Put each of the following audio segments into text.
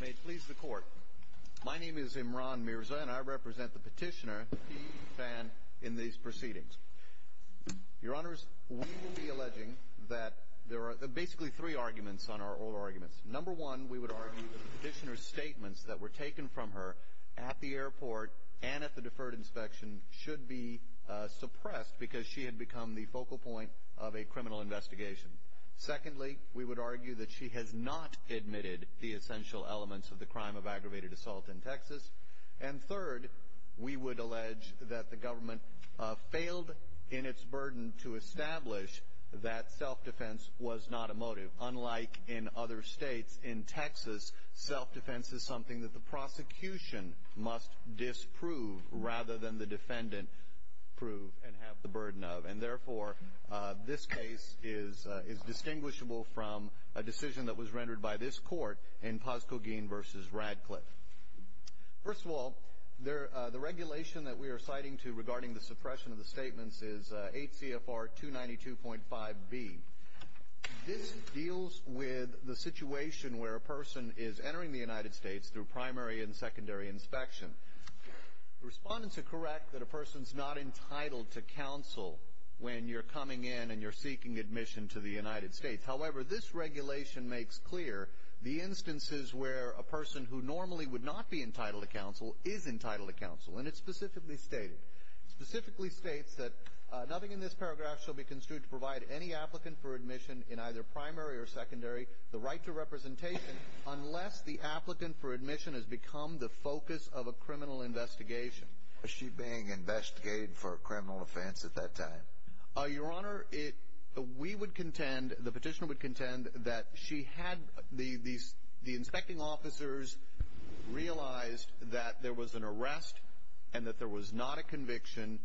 May it please the Court. My name is Imran Mirza, and I represent the petitioner, the key fan in these proceedings. Your Honors, we will be alleging that there are basically three arguments on our oral arguments. Number one, we would argue that the petitioner's statements that were taken from her at the airport and at the deferred inspection should be suppressed because she had become the focal point of a criminal investigation. Secondly, we would argue that she has not admitted the essential elements of the crime of aggravated assault in Texas. And third, we would allege that the government failed in its burden to establish that self-defense was not a motive. Unlike in other states, in Texas, self-defense is something that the prosecution must disprove rather than the defendant is distinguishable from a decision that was rendered by this Court in Posco Gein v. Radcliffe. First of all, the regulation that we are citing regarding the suppression of the statements is 8 CFR 292.5B. This deals with the situation where a person is entering the United States through primary and secondary inspection. The respondents are correct that a person's not entitled to counsel when you're coming in and you're seeking admission to the United States. However, this regulation makes clear the instances where a person who normally would not be entitled to counsel is entitled to counsel. And it specifically states that nothing in this paragraph shall be construed to provide any applicant for admission in either primary or secondary the right to representation unless the applicant for admission has become the focus of a criminal investigation. Was she being investigated for a criminal offense at that time? Your Honor, we would contend, the petitioner would contend that she had, the inspecting officers realized that there was an arrest and that there was not a conviction,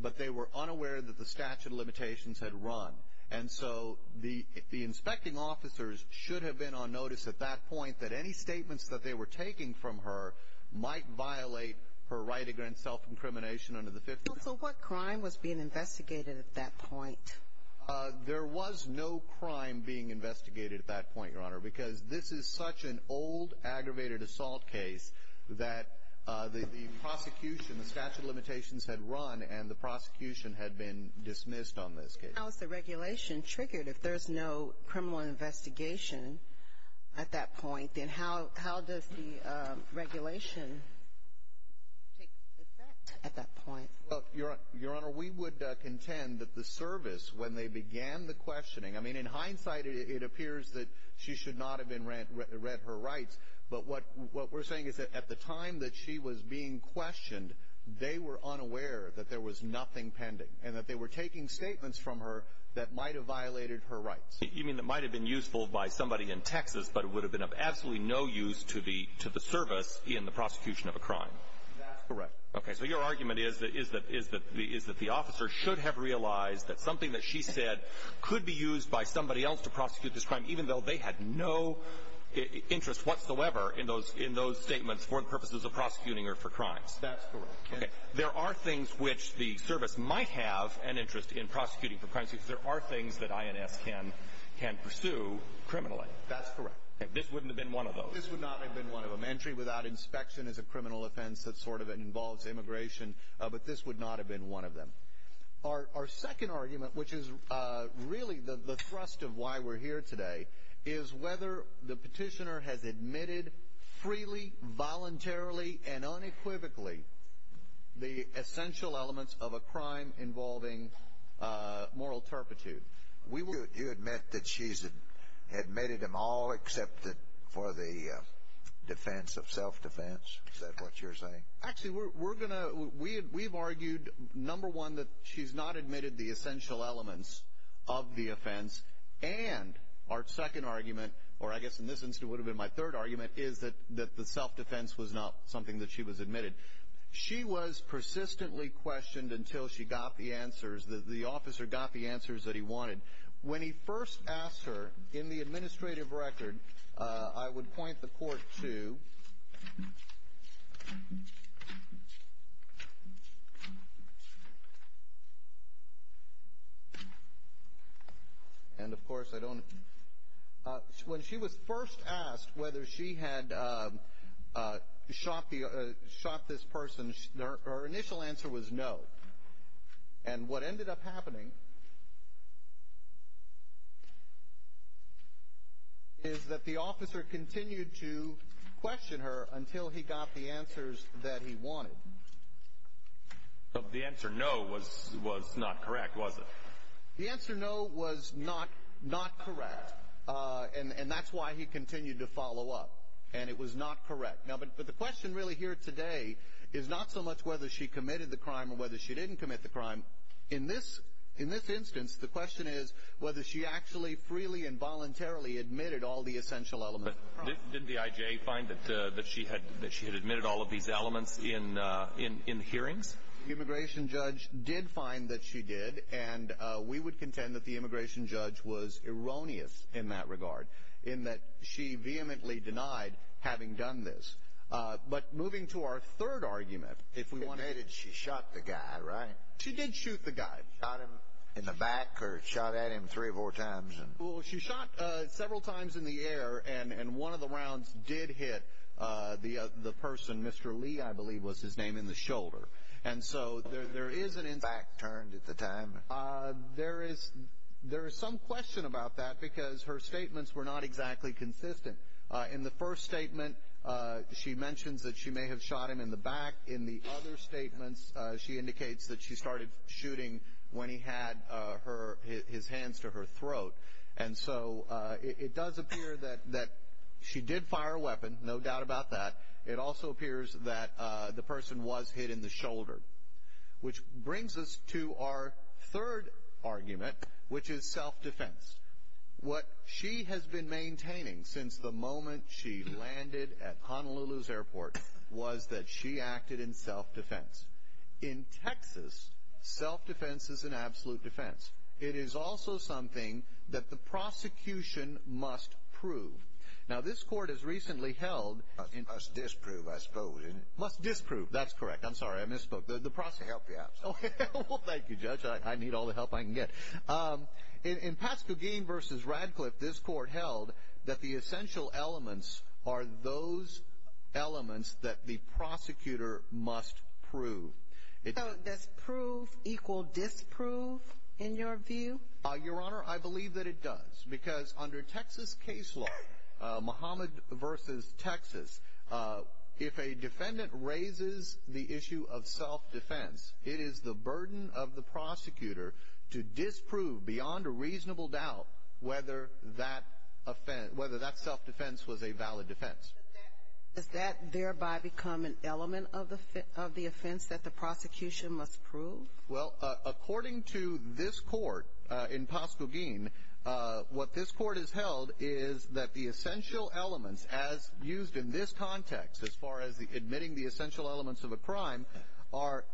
but they were unaware that the statute of limitations had run. And so the inspecting officers should have been on notice at that point that any statements that they were taking from her might violate her right against self-incrimination under the Fifth Amendment. So what crime was being investigated at that point? There was no crime being investigated at that point, Your Honor, because this is such an old, aggravated assault case that the prosecution, the statute of limitations had run and the prosecution had been dismissed on this case. How is the regulation triggered if there's no criminal investigation at that point? And how does the regulation take effect at that point? Well, Your Honor, we would contend that the service, when they began the questioning, I mean, in hindsight, it appears that she should not have been read her rights, but what we're saying is that at the time that she was being questioned, they were unaware that there was nothing pending and that they were taking statements from her that might have violated her rights. You mean that might have been useful by somebody in Texas, but it would have been of absolutely no use to the service in the prosecution of a crime? That's correct. Okay. So your argument is that the officer should have realized that something that she said could be used by somebody else to prosecute this crime, even though they had no interest whatsoever in those statements for the purposes of prosecuting her for crimes? That's correct. Okay. There are things which the service might have an interest in prosecuting for can pursue criminally. That's correct. This wouldn't have been one of those. This would not have been one of them. Entry without inspection is a criminal offense that sort of involves immigration, but this would not have been one of them. Our second argument, which is really the thrust of why we're here today, is whether the petitioner has admitted freely, voluntarily, and unequivocally the essential elements of a crime involving moral turpitude. Do you admit that she's admitted them all except for the defense of self-defense? Is that what you're saying? Actually, we've argued, number one, that she's not admitted the essential elements of the offense, and our second argument, or I guess in this instance it would have been my third argument, is that the self-defense was not something that she was admitted. She was persistently questioned until she got the answers, the officer got the answers that he wanted. When he first asked her in the administrative record, I would point the court to, and of course I don't, when she was first asked whether she had shot this person, her initial answer was no, and what ended up happening is that the officer continued to question her until he got the answers that he wanted. But the answer no was not correct, was it? The answer no was not correct, and that's why he continued to follow up, and it was not correct. But the question really here today is not so much whether she committed the crime or whether she didn't commit the crime. In this instance, the question is whether she actually freely and voluntarily admitted all the essential elements of the crime. But didn't the IJA find that she had admitted all of these elements in hearings? The immigration judge did find that she did, and we would contend that the immigration But moving to our third argument, if we want to... Admitted she shot the guy, right? She did shoot the guy. Shot him in the back or shot at him three or four times? Well, she shot several times in the air, and one of the rounds did hit the person, Mr. Lee, I believe was his name, in the shoulder. And so there is an... Back turned at the time? There is some question about that because her statements were not exactly consistent. In the first statement, she mentions that she may have shot him in the back. In the other statements, she indicates that she started shooting when he had his hands to her throat. And so it does appear that she did fire a weapon, no doubt about that. It also appears that the person was hit in the shoulder, which brings us to our third argument, which is self-defense. What she has been maintaining since the moment she landed at Honolulu's airport was that she acted in self-defense. In Texas, self-defense is an absolute defense. It is also something that the prosecution must prove. Now, this court has recently held... Must disprove, I suppose. Must disprove, that's correct. I'm sorry, I misspoke. The prosecutor... I'll help you out. Well, thank you, Judge. I need all the help I can get. In Pat Scogin v. Radcliffe, this court held that the essential elements are those elements that the prosecutor must prove. So does prove equal disprove in your view? Your Honor, I believe that it does because under Texas case law, Muhammad v. Texas, if a defendant raises the issue of self-defense, it is the burden of the prosecutor to disprove beyond a reasonable doubt whether that self-defense was a valid defense. Does that thereby become an element of the offense that the prosecution must prove? Well, according to this court in Pat Scogin, what this court has held is that the essential elements, as used in this context as far as admitting the essential elements of a crime, are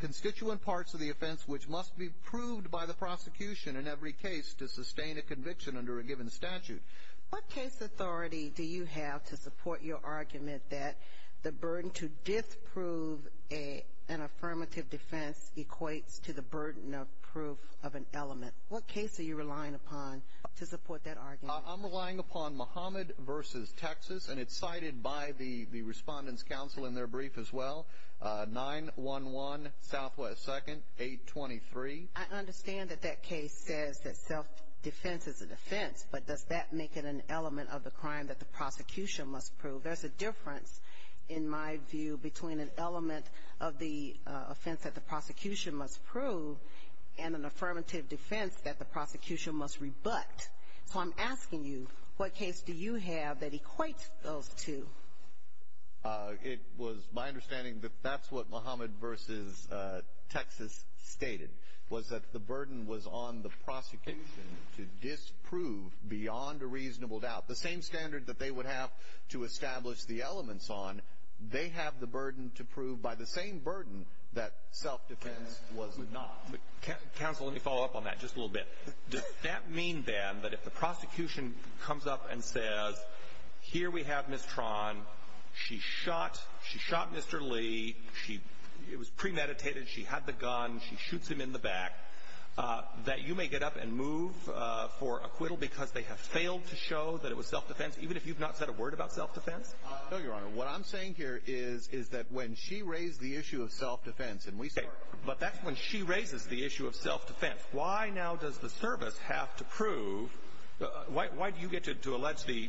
constituent parts of the offense which must be proved by the prosecution in every case to sustain a conviction under a given statute. What case authority do you have to support your argument that the burden to disprove an affirmative defense equates to the burden of proof of an element? What case are you relying upon to support that argument? Your Honor, I'm relying upon Muhammad v. Texas, and it's cited by the Respondent's Counsel in their brief as well, 9-1-1 Southwest 2nd, 823. I understand that that case says that self-defense is a defense, but does that make it an element of the crime that the prosecution must prove? There's a difference, in my view, between an element of the offense that the prosecution must prove and an affirmative defense that the prosecution must rebut. So I'm asking you, what case do you have that equates those two? It was my understanding that that's what Muhammad v. Texas stated, was that the burden was on the prosecution to disprove beyond a reasonable doubt. The same standard that they would have to establish the elements on, they have the burden to prove by the same burden that self-defense was not. Counsel, let me follow up on that just a little bit. Does that mean, then, that if the prosecution comes up and says, here we have Ms. Tran, she shot Mr. Lee, it was premeditated, she had the gun, she shoots him in the back, that you may get up and move for acquittal because they have failed to show that it was self-defense, even if you've not said a word about self-defense? No, Your Honor. What I'm saying here is that when she raised the issue of self-defense, and we support it. But that's when she raises the issue of self-defense. Why now does the service have to prove, why do you get to allege the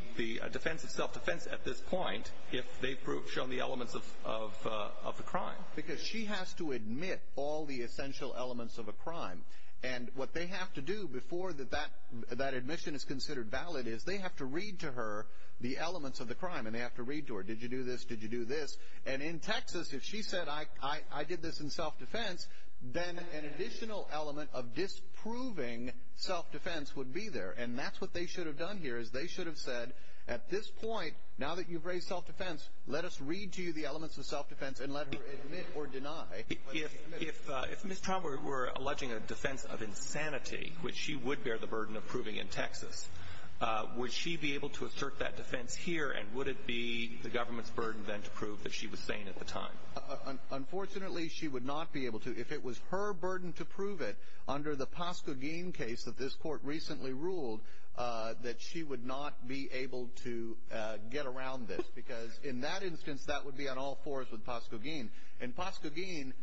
defense of self-defense at this point if they've shown the elements of the crime? Because she has to admit all the essential elements of a crime. And what they have to do before that admission is considered valid is they have to read to her the elements of the crime. And they have to read to her, did you do this, did you do this? And in Texas, if she said, I did this in self-defense, then an additional element of disproving self-defense would be there. And that's what they should have done here is they should have said, at this point, now that you've raised self-defense, let us read to you the elements of self-defense and let her admit or deny. If Ms. Traum were alleging a defense of insanity, which she would bear the burden of proving in Texas, would she be able to assert that defense here, and would it be the government's burden then to prove that she was sane at the time? Unfortunately, she would not be able to. If it was her burden to prove it under the Pascogeen case that this court recently ruled, that she would not be able to get around this. Because in that instance, that would be on all fours with Pascogeen. In Pascogeen,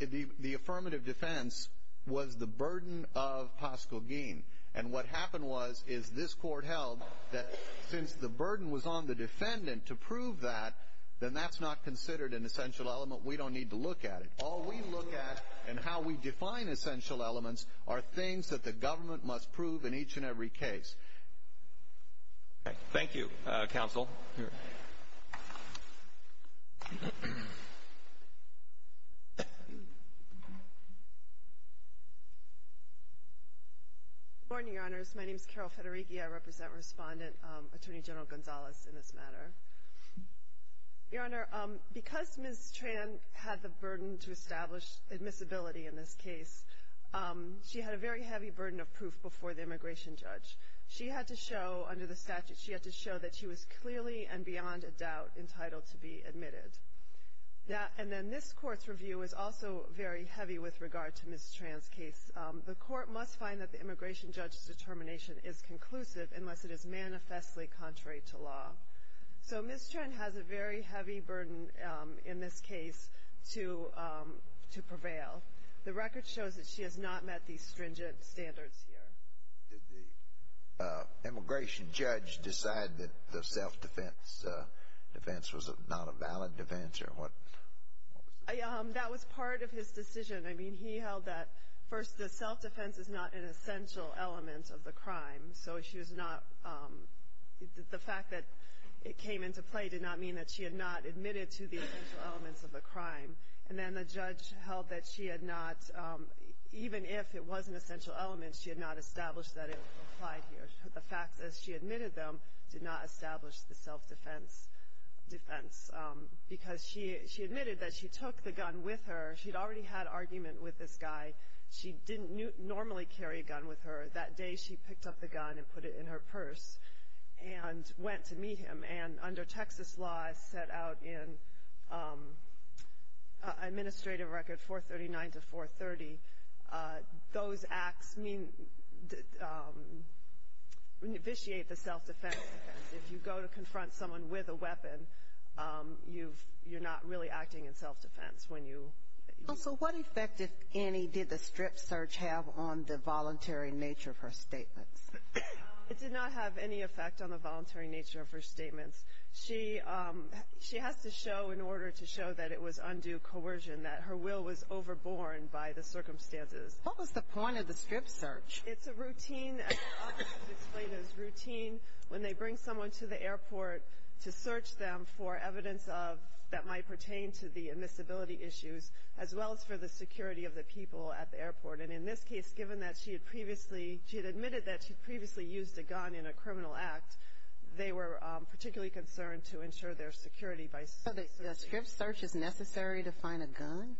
the affirmative defense was the burden of Pascogeen. And what happened was is this court held that since the burden was on the defendant to prove that, then that's not considered an essential element. We don't need to look at it. All we look at and how we define essential elements are things that the government must prove in each and every case. Thank you, Counsel. Good morning, Your Honors. My name is Carol Federighi. I represent Respondent Attorney General Gonzalez in this matter. Your Honor, because Ms. Tran had the burden to establish admissibility in this case, she had a very heavy burden of proof before the immigration judge. She had to show under the statute, she had to show that she was clearly and beyond a doubt entitled to be admitted. And then this Court's review is also very heavy with regard to Ms. Tran's case. The Court must find that the immigration judge's determination is conclusive unless it is manifestly contrary to law. So Ms. Tran has a very heavy burden in this case to prevail. The record shows that she has not met these stringent standards here. Did the immigration judge decide that the self-defense defense was not a valid defense? That was part of his decision. I mean, he held that, first, the self-defense is not an essential element of the crime. So the fact that it came into play did not mean that she had not admitted to the essential elements of the crime. And then the judge held that she had not, even if it was an essential element, she had not established that it applied here. The fact that she admitted them did not establish the self-defense defense. Because she admitted that she took the gun with her. She'd already had argument with this guy. She didn't normally carry a gun with her. That day she picked up the gun and put it in her purse and went to meet him. And under Texas law, as set out in Administrative Record 439 to 430, those acts vitiate the self-defense defense. If you go to confront someone with a weapon, you're not really acting in self-defense. So what effect, if any, did the strip search have on the voluntary nature of her statements? It did not have any effect on the voluntary nature of her statements. She has to show, in order to show that it was undue coercion, that her will was overborne by the circumstances. What was the point of the strip search? It's a routine, as the officer explained, it's a routine when they bring someone to the airport to search them for evidence that might pertain to the admissibility issues, as well as for the security of the people at the airport. And in this case, given that she had previously, she had admitted that she had previously used a gun in a criminal act, they were particularly concerned to ensure their security by searching. So the strip search is necessary to find a gun? Again,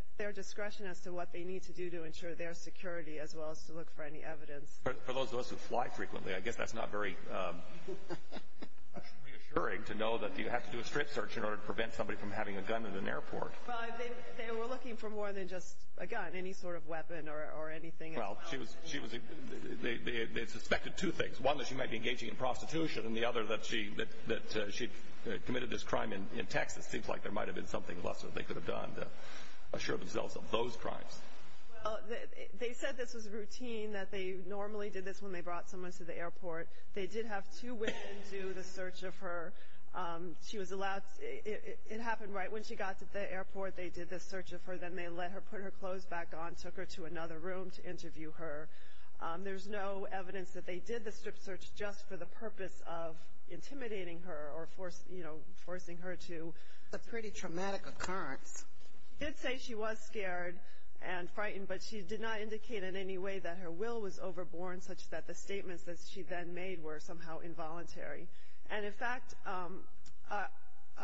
it's their discretion as to what they need to do to ensure their security, as well as to look for any evidence. For those of us who fly frequently, I guess that's not very reassuring to know that you have to do a strip search in order to prevent somebody from having a gun at an airport. Well, they were looking for more than just a gun, any sort of weapon or anything. Well, she was, they suspected two things, one that she might be engaging in prostitution and the other that she committed this crime in Texas. It seems like there might have been something else that they could have done to assure themselves of those crimes. They said this was routine, that they normally did this when they brought someone to the airport. They did have two women do the search of her. She was allowed, it happened right when she got to the airport, they did the search of her, then they let her put her clothes back on, took her to another room to interview her. There's no evidence that they did the strip search just for the purpose of intimidating her or, you know, forcing her to. That's a pretty traumatic occurrence. They did say she was scared and frightened, but she did not indicate in any way that her will was overborne, such that the statements that she then made were somehow involuntary. And, in fact,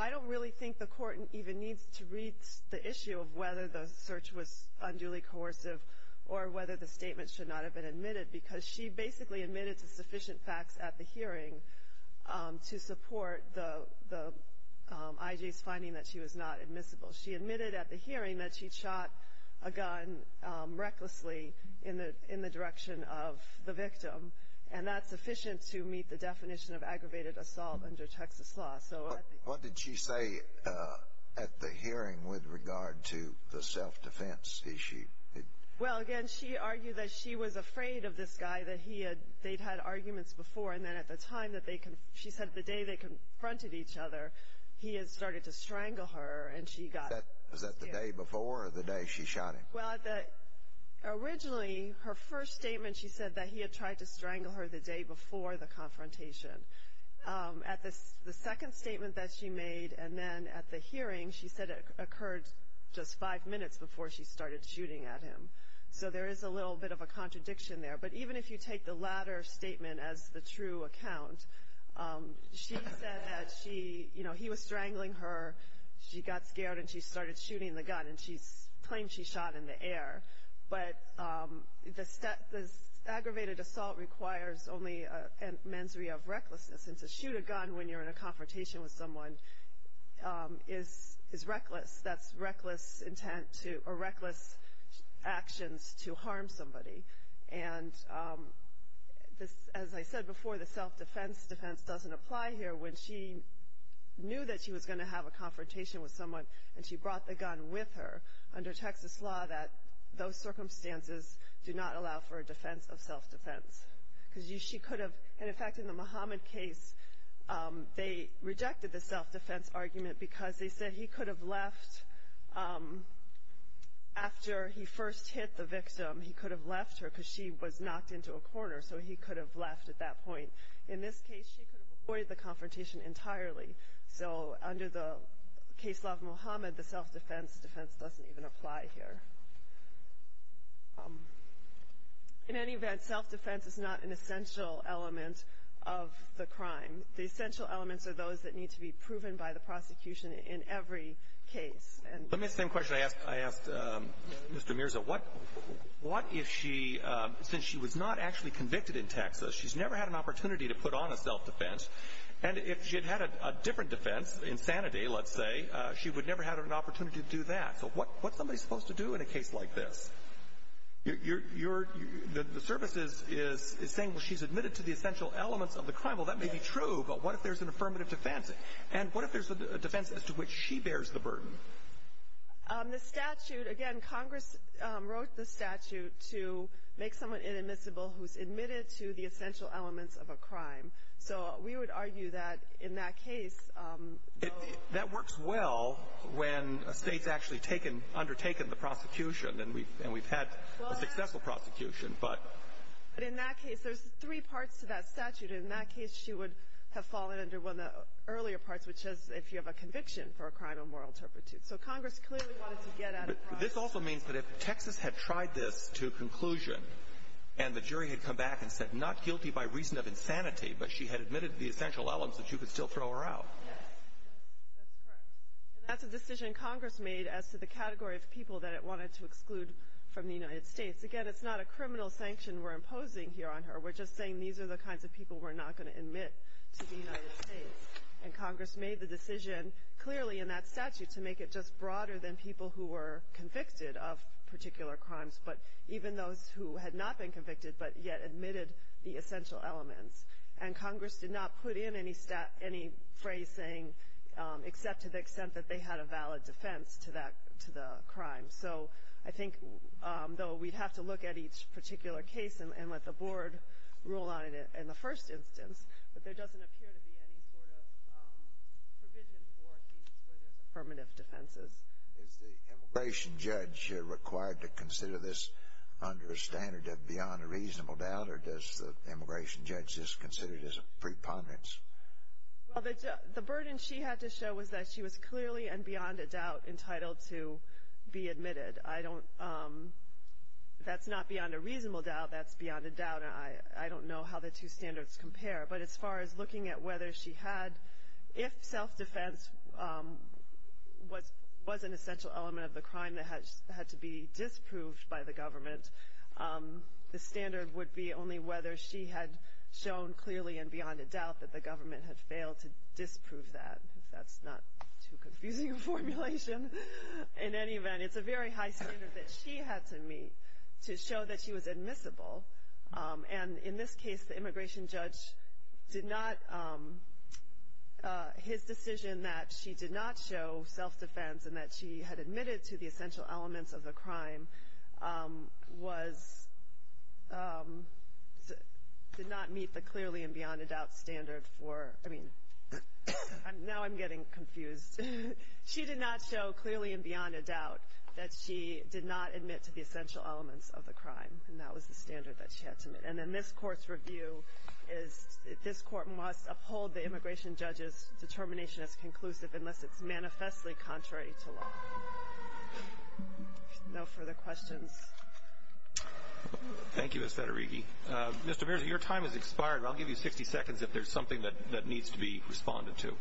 I don't really think the court even needs to read the issue of whether the search was unduly coercive or whether the statement should not have been admitted, because she basically admitted to sufficient facts at the hearing to support the IG's finding that she was not admissible. She admitted at the hearing that she shot a gun recklessly in the direction of the victim, and that's sufficient to meet the definition of aggravated assault under Texas law. What did she say at the hearing with regard to the self-defense issue? Well, again, she argued that she was afraid of this guy, that they'd had arguments before, and then at the time that they, she said the day they confronted each other, he had started to strangle her and she got scared. Was that the day before or the day she shot him? Well, originally, her first statement, she said that he had tried to strangle her the day before the confrontation. At the second statement that she made and then at the hearing, she said it occurred just five minutes before she started shooting at him. So there is a little bit of a contradiction there. But even if you take the latter statement as the true account, she said that she, you know, he was strangling her, she got scared, and she started shooting the gun, and she claimed she shot in the air. But this aggravated assault requires only a mens rea of recklessness, and to shoot a gun when you're in a confrontation with someone is reckless. That's reckless intent to, or reckless actions to harm somebody. And as I said before, the self-defense defense doesn't apply here. When she knew that she was going to have a confrontation with someone and she brought the gun with her, under Texas law, that those circumstances do not allow for a defense of self-defense. Because she could have, and in fact, in the Mohammed case, they rejected the self-defense argument because they said he could have left after he first hit the victim. He could have left her because she was knocked into a corner, so he could have left at that point. In this case, she could have avoided the confrontation entirely. So under the case law of Mohammed, the self-defense defense doesn't even apply here. In any event, self-defense is not an essential element of the crime. The essential elements are those that need to be proven by the prosecution in every case. Let me ask the same question I asked Mr. Mirza. What if she, since she was not actually convicted in Texas, she's never had an opportunity to put on a self-defense, and if she had had a different defense, insanity, let's say, she would never have had an opportunity to do that. So what's somebody supposed to do in a case like this? The service is saying, well, she's admitted to the essential elements of the crime. Well, that may be true, but what if there's an affirmative defense? And what if there's a defense as to which she bears the burden? The statute, again, Congress wrote the statute to make someone inadmissible who's admitted to the essential elements of a crime. So we would argue that in that case, though— That works well when a state's actually undertaken the prosecution, and we've had a successful prosecution, but— But in that case, there's three parts to that statute. In that case, she would have fallen under one of the earlier parts, which is if you have a conviction for a crime of moral turpitude. So Congress clearly wanted to get at a crime— This also means that if Texas had tried this to a conclusion, and the jury had come back and said, not guilty by reason of insanity, but she had admitted to the essential elements, that you could still throw her out. That's correct. And that's a decision Congress made as to the category of people that it wanted to exclude from the United States. Again, it's not a criminal sanction we're imposing here on her. We're just saying these are the kinds of people we're not going to admit to the United States. And Congress made the decision clearly in that statute to make it just broader than people who were convicted of particular crimes, but even those who had not been convicted but yet admitted the essential elements. And Congress did not put in any phrase saying, except to the extent that they had a valid defense to the crime. So I think, though, we'd have to look at each particular case and let the board rule on it in the first instance, but there doesn't appear to be any sort of provision for cases where there's affirmative defenses. Is the immigration judge required to consider this under a standard of beyond a reasonable doubt, or does the immigration judge just consider it as a preponderance? Well, the burden she had to show was that she was clearly and beyond a doubt entitled to be admitted. I don't—that's not beyond a reasonable doubt, that's beyond a doubt. I don't know how the two standards compare, but as far as looking at whether she had— if self-defense was an essential element of the crime that had to be disproved by the government, the standard would be only whether she had shown clearly and beyond a doubt that the government had failed to disprove that, if that's not too confusing a formulation. In any event, it's a very high standard that she had to meet to show that she was admissible. And in this case, the immigration judge did not—his decision that she did not show self-defense and that she had admitted to the essential elements of the crime was—did not meet the clearly and beyond a doubt standard for— I mean, now I'm getting confused. She did not show clearly and beyond a doubt that she did not admit to the essential elements of the crime, and that was the standard that she had to meet. And in this Court's review, this Court must uphold the immigration judge's determination as conclusive unless it's manifestly contrary to law. No further questions. Thank you, Ms. Federighi. Mr. Mears, your time has expired. I'll give you 60 seconds if there's something that needs to be responded to.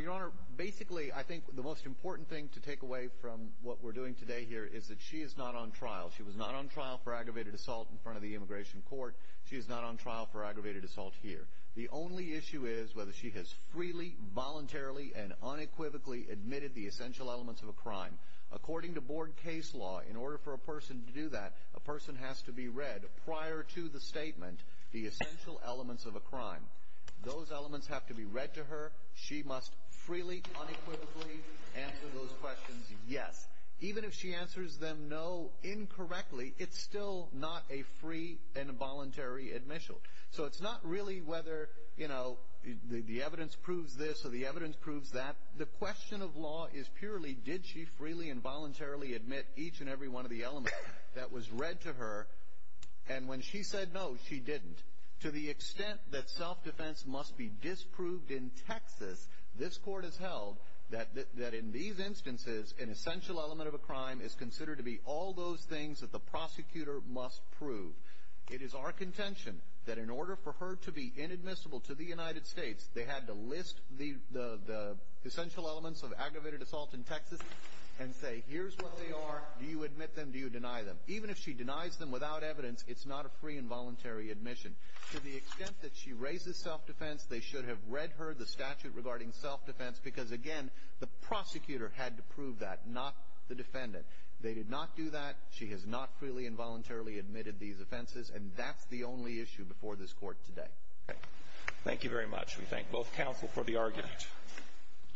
Your Honor, basically, I think the most important thing to take away from what we're doing today here is that she is not on trial. She was not on trial for aggravated assault in front of the immigration court. She is not on trial for aggravated assault here. The only issue is whether she has freely, voluntarily, and unequivocally admitted the essential elements of a crime. According to board case law, in order for a person to do that, a person has to be read prior to the statement the essential elements of a crime. Those elements have to be read to her. She must freely, unequivocally answer those questions, yes. Even if she answers them no incorrectly, it's still not a free and voluntary admission. So it's not really whether, you know, the evidence proves this or the evidence proves that. The question of law is purely did she freely and voluntarily admit each and every one of the elements that was read to her. And when she said no, she didn't. To the extent that self-defense must be disproved in Texas, this court has held that in these instances, an essential element of a crime is considered to be all those things that the prosecutor must prove. It is our contention that in order for her to be inadmissible to the United States, they had to list the essential elements of aggravated assault in Texas and say, here's what they are, do you admit them, do you deny them? Even if she denies them without evidence, it's not a free and voluntary admission. To the extent that she raises self-defense, they should have read her the statute regarding self-defense because, again, the prosecutor had to prove that, not the defendant. They did not do that. She has not freely and voluntarily admitted these offenses. And that's the only issue before this Court today. Thank you very much. We thank both counsel for the argument.